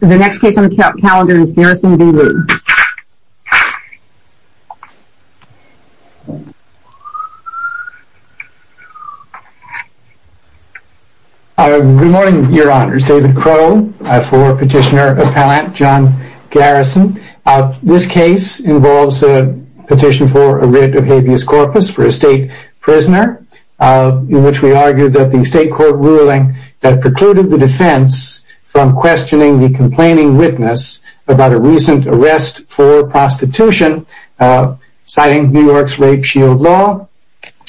The next case on the calendar is Garrison v. Lee. Good morning, your honors. David Crowe for Petitioner Appellant John Garrison. This case involves a petition for a writ of habeas corpus for a state prisoner in which we argue that the state court ruling that precluded the defense from questioning the complaining witness about a recent arrest for prostitution, citing New York's rape shield law,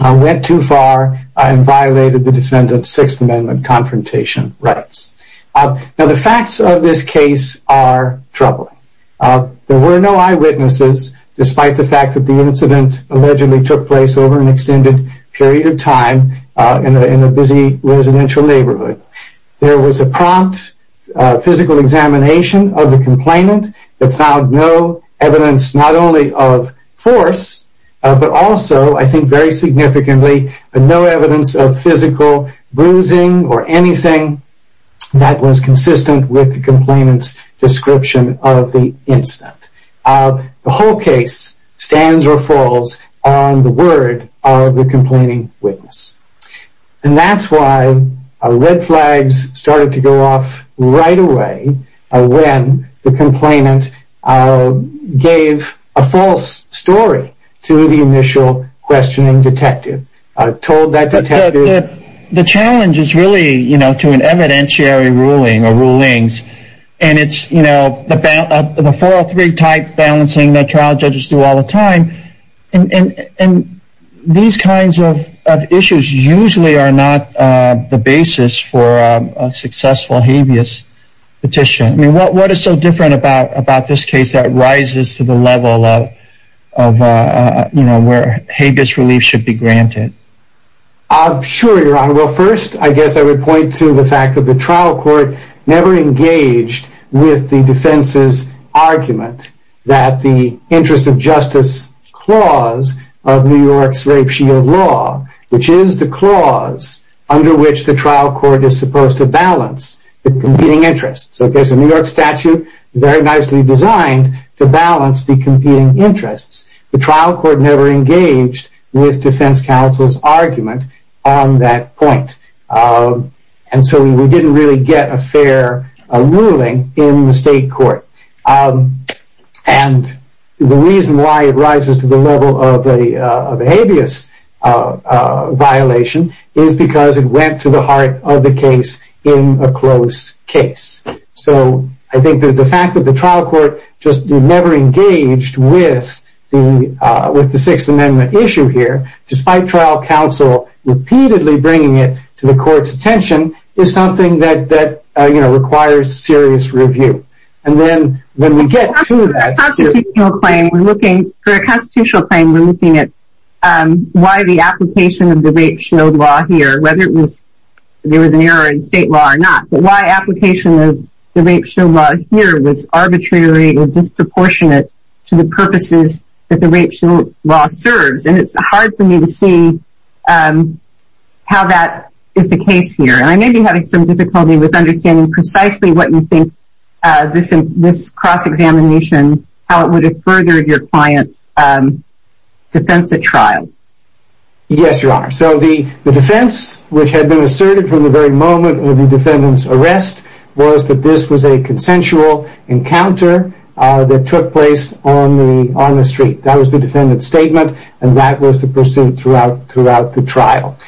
went too far and violated the defendant's Sixth Amendment confrontation rights. Now the facts of this case are troubling. There were no eyewitnesses despite the fact that the incident allegedly took place over an extended period of time in a busy residential neighborhood. There was a prompt physical examination of the complainant that found no evidence not only of force, but also, I think very significantly, no evidence of physical bruising or anything that was consistent with the complainant's description of the incident. The whole case stands or falls on the word of the complaining witness. And that's why red flags started to go off right away when the complainant gave a false story to the initial questioning detective. The challenge is really to an evidentiary ruling or rulings. And it's the 403 type balancing that trial judges do all the time. And these kinds of issues usually are not the basis for a successful habeas petition. What is so different about this case that rises to the level of where habeas relief should be granted? Sure, Your Honor. Well, first, I guess I would point to the fact that the trial court never engaged with the defense's argument that the interest of justice clause of New York's rape shield law, which is the clause under which the trial court is supposed to balance the competing interests. So there's a New York statute very nicely designed to balance the competing interests. The trial court never engaged with defense counsel's argument on that point. And so we didn't really get a fair ruling in the state court. And the reason why it rises to the level of a habeas violation is because it went to the heart of the case in a close case. So I think that the fact that the trial court just never engaged with the Sixth Amendment issue here, despite trial counsel repeatedly bringing it to the court's attention, is something that requires serious review. For a constitutional claim, we're looking at why the application of the rape shield law here, whether there was an error in state law or not, but why application of the rape shield law here was arbitrary or disproportionate to the purposes that the rape shield law serves. And it's hard for me to see how that is the case here. I may be having some difficulty with understanding precisely what you think this cross-examination, how it would have furthered your client's defense at trial. Yes, Your Honor. So the defense which had been asserted from the very moment of the defendant's arrest was that this was a consensual encounter that took place on the street. That was the defendant's statement, and that was the pursuit throughout the trial.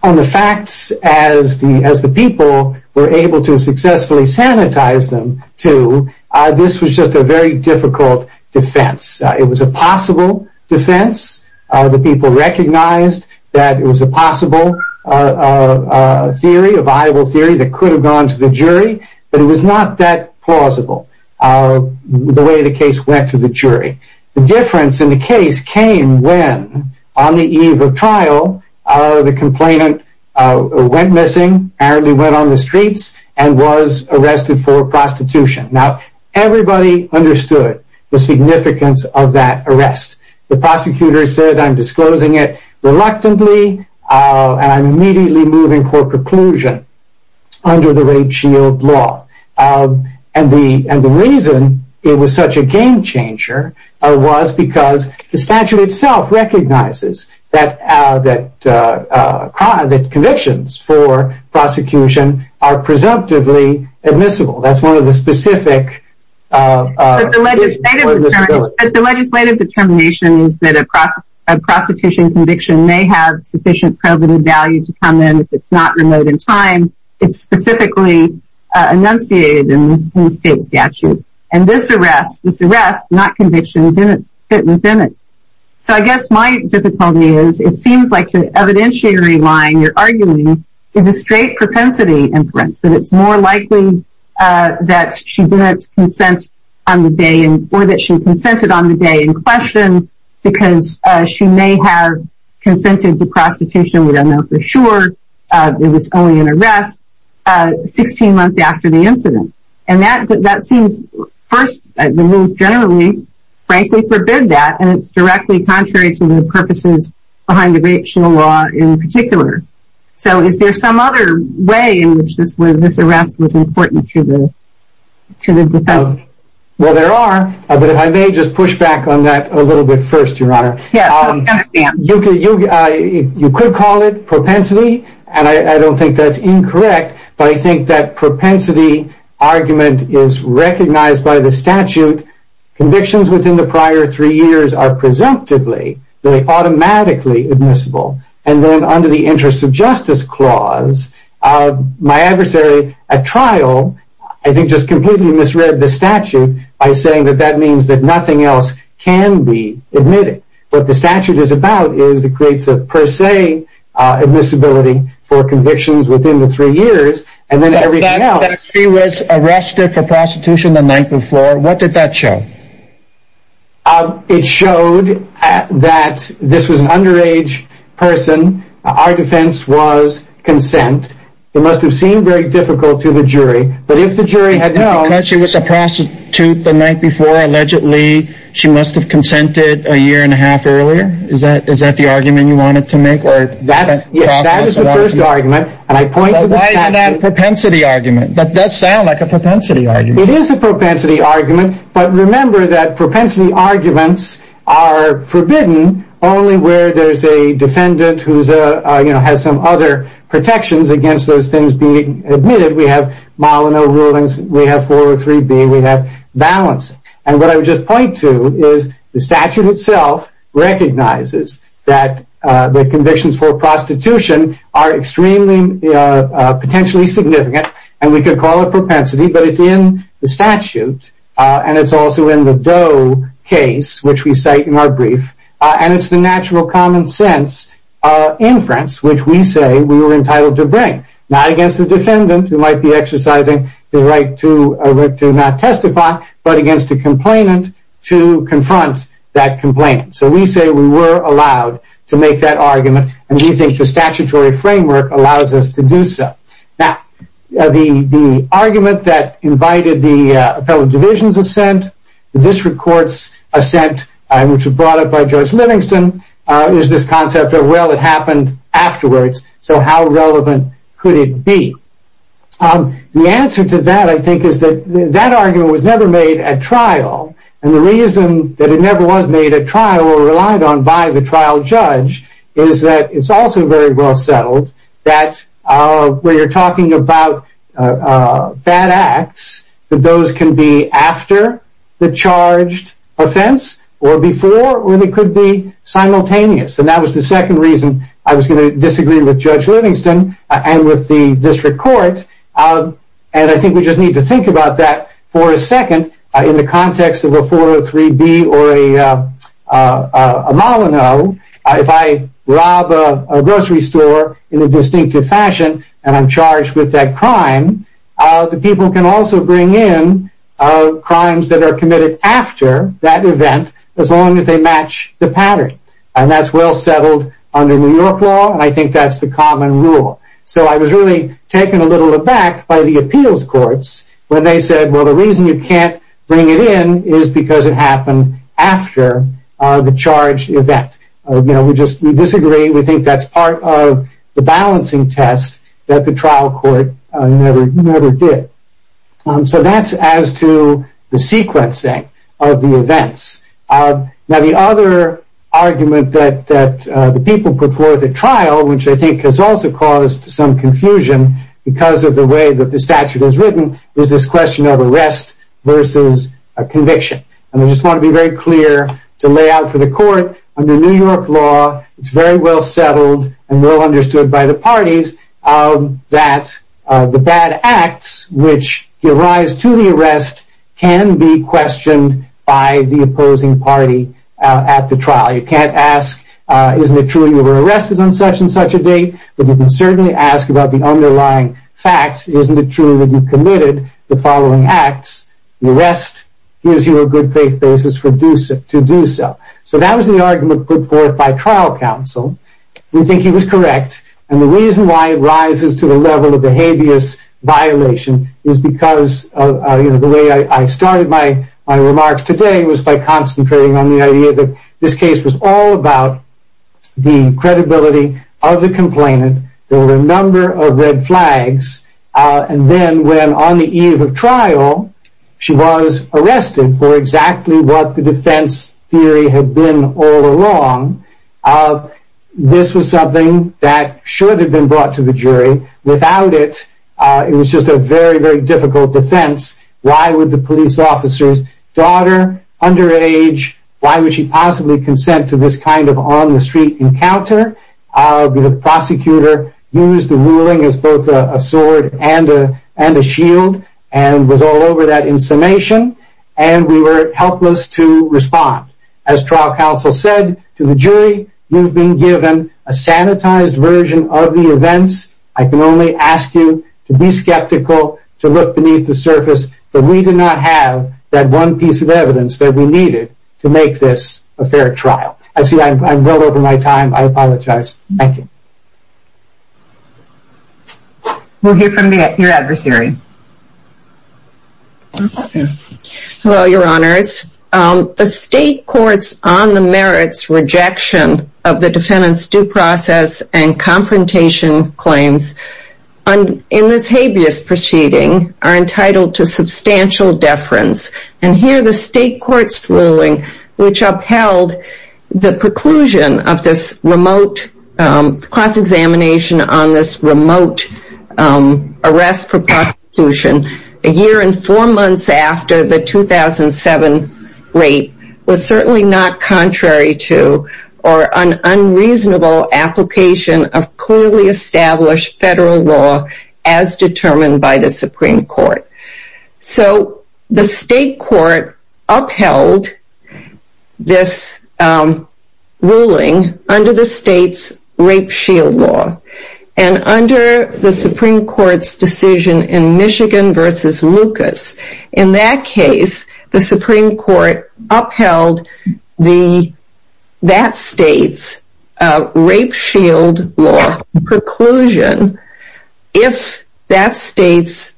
On the facts, as the people were able to successfully sanitize them to, this was just a very difficult defense. It was a possible defense. The people recognized that it was a possible theory, a viable theory that could have gone to the jury, but it was not that plausible, the way the case went to the jury. The difference in the case came when, on the eve of trial, the complainant went missing, apparently went on the streets, and was arrested for prostitution. Now, everybody understood the significance of that arrest. The prosecutor said, I'm disclosing it reluctantly, and I'm immediately moving for preclusion under the rape shield law. And the reason it was such a game changer was because the statute itself recognizes that convictions for prosecution are presumptively admissible. That's one of the specific... The legislative determination is that a prosecution conviction may have sufficient probative value to come in if it's not remote in time, it's specifically enunciated in the state statute. And this arrest, this arrest, not conviction, didn't fit within it. So I guess my difficulty is, it seems like the evidentiary line you're arguing is a straight propensity inference, that it's more likely that she didn't consent on the day, or that she consented on the day in question, because she may have consented to prostitution, we don't know for sure, it was only an arrest, 16 months after the incident. And that seems, first, the rules generally frankly forbid that, and it's directly contrary to the purposes behind the rape shield law in particular. So is there some other way in which this arrest was important to the defense? Well, there are, but if I may just push back on that a little bit first, Your Honor. Yes, I understand. You could call it propensity, and I don't think that's incorrect, but I think that propensity argument is recognized by the statute, convictions within the prior three years are presumptively, they're automatically admissible. And then under the interest of justice clause, my adversary at trial, I think, just completely misread the statute by saying that that means that nothing else can be admitted. What the statute is about is it creates a per se admissibility for convictions within the three years, and then everything else... That she was arrested for prostitution the night before, what did that show? It showed that this was an underage person. Our defense was consent. It must have seemed very difficult to the jury, but if the jury had known... Because she was a prostitute the night before, allegedly she must have consented a year and a half earlier? Is that the argument you wanted to make? That is the first argument, and I point to the statute... Why isn't that a propensity argument? That does sound like a propensity argument. It is a propensity argument, but remember that propensity arguments are forbidden only where there's a defendant who has some other protections against those things being admitted. We have Milono rulings, we have 403B, we have balance. And what I would just point to is the statute itself recognizes that the convictions for prostitution are extremely potentially significant, and we could call it propensity, but it's in the statute, and it's also in the Doe case, which we cite in our brief, and it's the natural common sense inference which we say we were entitled to bring. Not against the defendant who might be exercising the right to not testify, but against the complainant to confront that complainant. So we say we were allowed to make that argument, and we think the statutory framework allows us to do so. Now, the argument that invited the appellate division's assent, the district court's assent, which was brought up by George Livingston, is this concept of, well, it happened afterwards, so how relevant could it be? The answer to that, I think, is that that argument was never made at trial, and the reason that it never was made at trial, or relied on by the trial judge, is that it's also very well settled that when you're talking about bad acts, that those can be after the charged offense, or before, or they could be simultaneous. And that was the second reason I was going to disagree with Judge Livingston and with the district court, and I think we just need to think about that for a second in the context of a 403B or a Molyneux. If I rob a grocery store in a distinctive fashion, and I'm charged with that crime, the people can also bring in crimes that are committed after that event, as long as they match the pattern. And that's well settled under New York law, and I think that's the common rule. So I was really taken a little aback by the appeals courts when they said, well, the reason you can't bring it in is because it happened after the charged event. We disagree, we think that's part of the balancing test that the trial court never did. So that's as to the sequencing of the events. Now the other argument that the people put forth at trial, which I think has also caused some confusion because of the way that the statute is written, is this question of arrest versus conviction. And I just want to be very clear to lay out for the court, under New York law, it's very well settled and well understood by the parties, that the bad acts which arise to the arrest can be questioned by the opposing party at the trial. You can't ask, isn't it true you were arrested on such and such a date? But you can certainly ask about the underlying facts. Isn't it true that you committed the following acts? The arrest gives you a good faith basis to do so. So that was the argument put forth by trial counsel. We think he was correct. And the reason why it rises to the level of the habeas violation is because, the way I started my remarks today was by concentrating on the idea that this case was all about the credibility of the complainant. There were a number of red flags. And then when on the eve of trial, she was arrested for exactly what the defense theory had been all along. This was something that should have been brought to the jury. Without it, it was just a very, very difficult defense. Why would the police officer's daughter, underage, why would she possibly consent to this kind of on-the-street encounter? The prosecutor used the ruling as both a sword and a shield, and was all over that in summation. And we were helpless to respond. As trial counsel said to the jury, you've been given a sanitized version of the events. I can only ask you to be skeptical, to look beneath the surface that we did not have that one piece of evidence that we needed to make this a fair trial. I see I'm well over my time. I apologize. Thank you. We'll hear from your adversary. Hello, your honors. The state courts on the merits rejection of the defendant's due process and confrontation claims in this habeas proceeding are entitled to substantial deference. And here the state court's ruling, which upheld the preclusion of this remote cross-examination on this remote arrest for prosecution, a year and four months after the 2007 rape, was certainly not contrary to or an unreasonable application of clearly established federal law as determined by the Supreme Court. So the state court upheld this ruling under the state's rape shield law. And under the Supreme Court's decision in Michigan versus Lucas, in that case, the Supreme Court upheld that state's rape shield law preclusion if that state's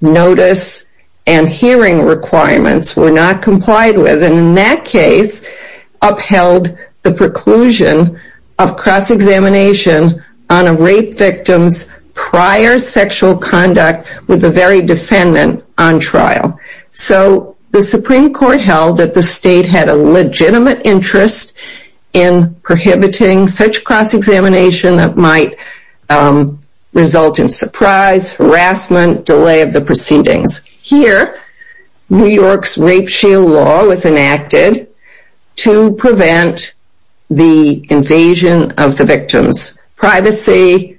notice and hearing requirements were not complied with. And in that case, upheld the preclusion of cross-examination on a rape victim's prior sexual conduct with the very defendant on trial. So the Supreme Court held that the state had a legitimate interest in prohibiting such cross-examination that might result in surprise, harassment, delay of the proceedings. Here, New York's rape shield law was enacted to prevent the invasion of the victim's privacy,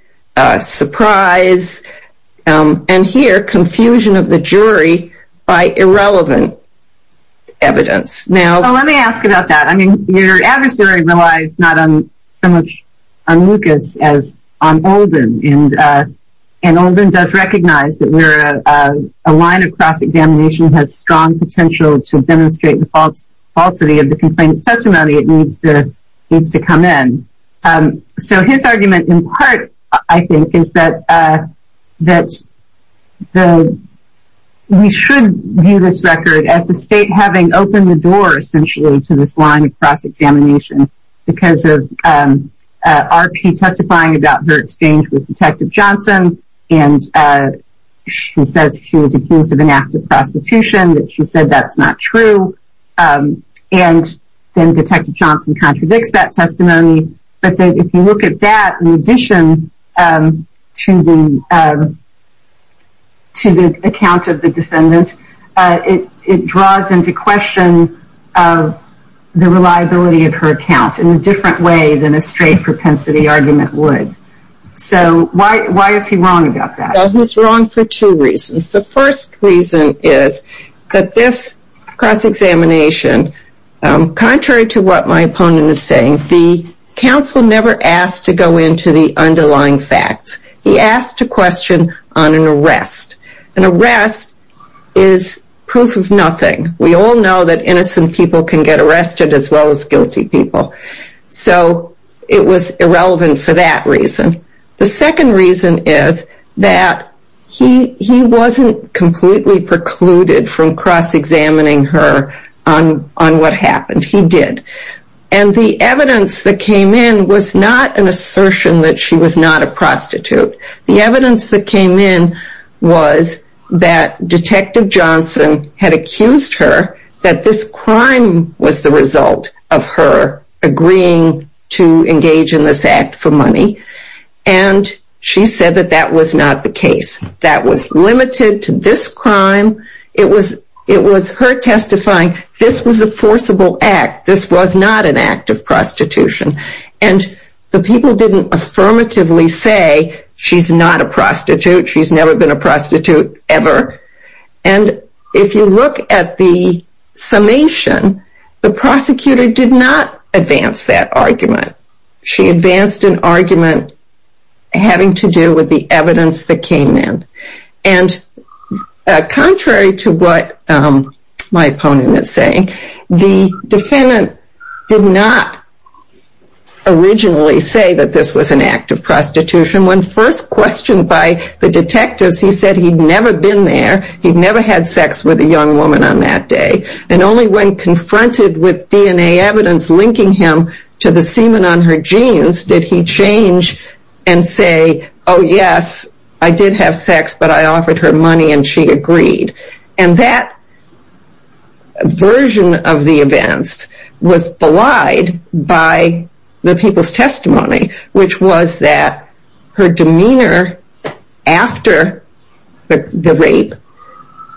surprise, and here, confusion of the jury by irrelevant evidence. Well, let me ask about that. I mean, your adversary relies not so much on Lucas as on Olden. And Olden does recognize that where a line of cross-examination has strong potential to demonstrate the falsity of the complaint's testimony, it needs to come in. So his argument, in part, I think, is that we should view this record as the state having opened the door, essentially, to this line of cross-examination because of RP testifying about her exchange with Detective Johnson, and she says she was accused of an act of prostitution, that she said that's not true, and then Detective Johnson contradicts that testimony. But if you look at that, in addition to the account of the defendant, it draws into question the reliability of her account in a different way than a straight propensity argument would. So why is he wrong about that? He's wrong for two reasons. The first reason is that this cross-examination, contrary to what my opponent is saying, the counsel never asked to go into the underlying facts. He asked a question on an arrest. An arrest is proof of nothing. We all know that innocent people can get arrested as well as guilty people. So it was irrelevant for that reason. The second reason is that he wasn't completely precluded from cross-examining her on what happened. He did. And the evidence that came in was not an assertion that she was not a prostitute. The evidence that came in was that Detective Johnson had accused her that this crime was the result of her agreeing to engage in this act for money. And she said that that was not the case. That was limited to this crime. It was her testifying, this was a forcible act. This was not an act of prostitution. And the people didn't affirmatively say, she's not a prostitute, she's never been a prostitute, ever. And if you look at the summation, the prosecutor did not advance that argument. She advanced an argument having to do with the evidence that came in. And contrary to what my opponent is saying, the defendant did not originally say that this was an act of prostitution. When first questioned by the detectives, he said he'd never been there. He'd never had sex with a young woman on that day. And only when confronted with DNA evidence linking him to the semen on her jeans did he change and say, oh yes, I did have sex, but I offered her money and she agreed. And that version of the events was belied by the people's testimony, which was that her demeanor after the rape,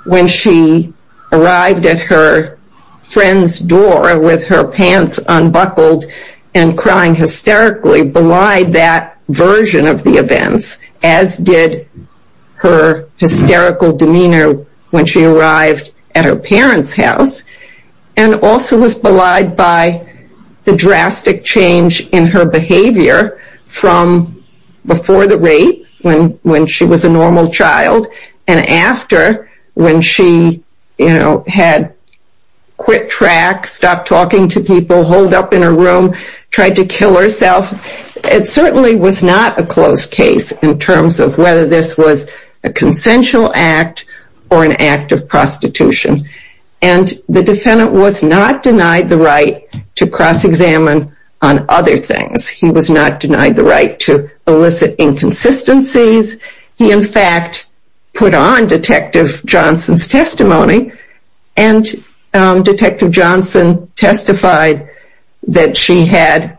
when she arrived at her friend's door with her pants unbuckled and crying hysterically, she belied that version of the events, as did her hysterical demeanor when she arrived at her parent's house. And also was belied by the drastic change in her behavior from before the rape, when she was a normal child, and after when she had quit track, stopped talking to people, holed up in her room, tried to kill herself. It certainly was not a closed case in terms of whether this was a consensual act or an act of prostitution. And the defendant was not denied the right to cross-examine on other things. He was not denied the right to elicit inconsistencies. And Detective Johnson testified that she had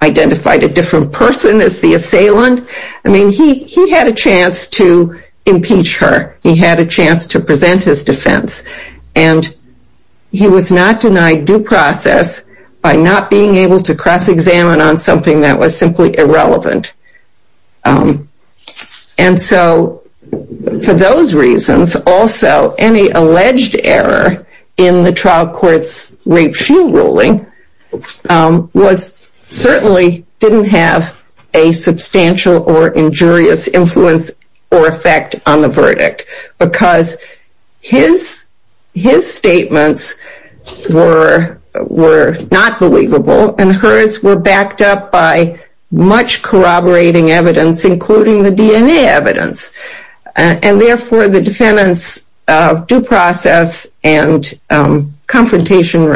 identified a different person as the assailant. I mean, he had a chance to impeach her. He had a chance to present his defense. And he was not denied due process by not being able to cross-examine on something that was simply irrelevant. And so for those reasons, also any alleged error in the trial court's rape-she ruling certainly didn't have a substantial or injurious influence or effect on the verdict. Because his statements were not believable, and hers were backed up by much corroborating evidence, including the DNA evidence. And therefore, the defendant's due process and confrontation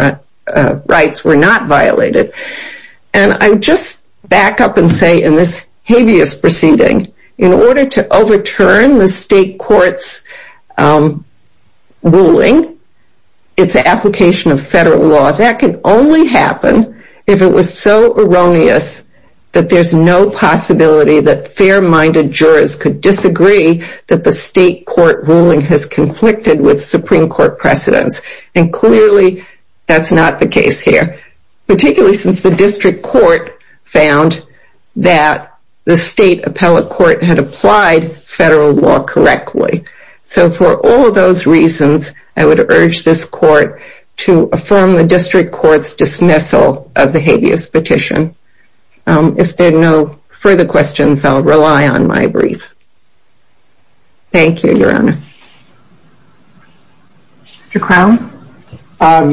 rights were not violated. And I would just back up and say in this habeas proceeding, in order to overturn the state court's ruling, its application of federal law, that can only happen if it was so erroneous that there's no possibility that fair-minded jurors could disagree that the state court ruling has conflicted with Supreme Court precedents. And clearly, that's not the case here. Particularly since the district court found that the state appellate court had applied federal law correctly. So for all those reasons, I would urge this court to affirm the district court's dismissal of the habeas petition. If there are no further questions, I'll rely on my brief. Thank you, Your Honor. Mr. Crown?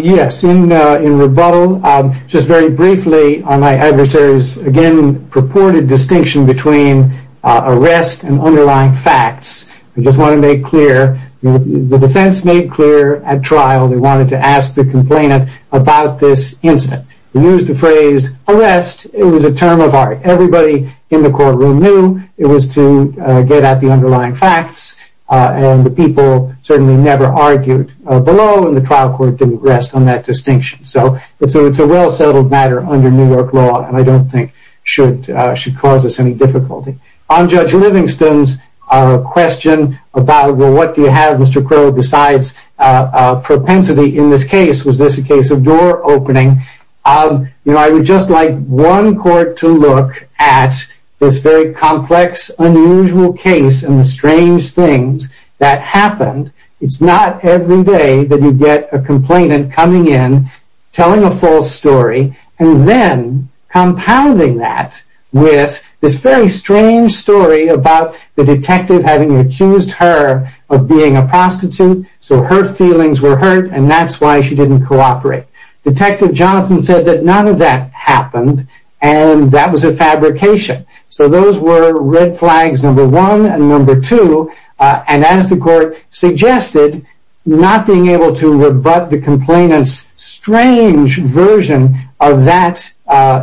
Yes, in rebuttal, just very briefly on my adversary's again purported distinction between arrest and underlying facts, I just want to make clear the defense made clear at trial they wanted to ask the complainant about this incident. They used the phrase arrest. It was a term of art. Everybody in the courtroom knew it was to get at the underlying facts. And the people certainly never argued below, and the trial court didn't rest on that distinction. So it's a well-settled matter under New York law, and I don't think should cause us any difficulty. On Judge Livingston's question about, well, what do you have, Mr. Crow, besides propensity in this case? Was this a case of door opening? I would just like one court to look at this very complex, unusual case and the strange things that happened. It's not every day that you get a complainant coming in, telling a false story, and then compounding that with this very strange story about the detective having accused her of being a prostitute, so her feelings were hurt, and that's why she didn't cooperate. Detective Johnson said that none of that happened, and that was a fabrication. So those were red flags number one and number two, and as the court suggested, not being able to rebut the complainant's strange version of that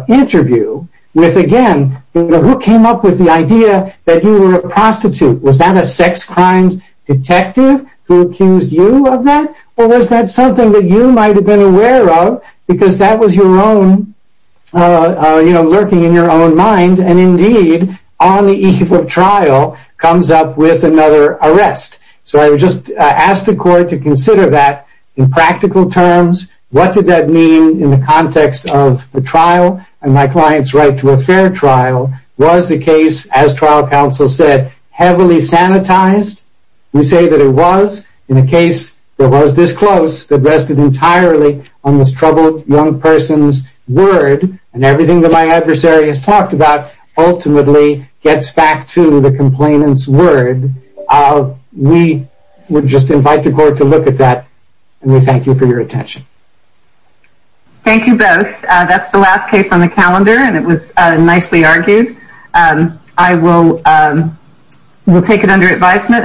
interview with, again, who came up with the idea that he were a prostitute? Was that a sex crimes detective who accused you of that, or was that something that you might have been aware of because that was lurking in your own mind, and indeed on the eve of trial comes up with another arrest? So I would just ask the court to consider that in practical terms. What did that mean in the context of a trial, and my client's right to a fair trial? Was the case, as trial counsel said, heavily sanitized? We say that it was. In a case that was this close, that rested entirely on this troubled young person's word, and everything that my adversary has talked about ultimately gets back to the complainant's word. We would just invite the court to look at that, and we thank you for your attention. Thank you both. That's the last case on the calendar, and it was nicely argued. I will take it under advisement.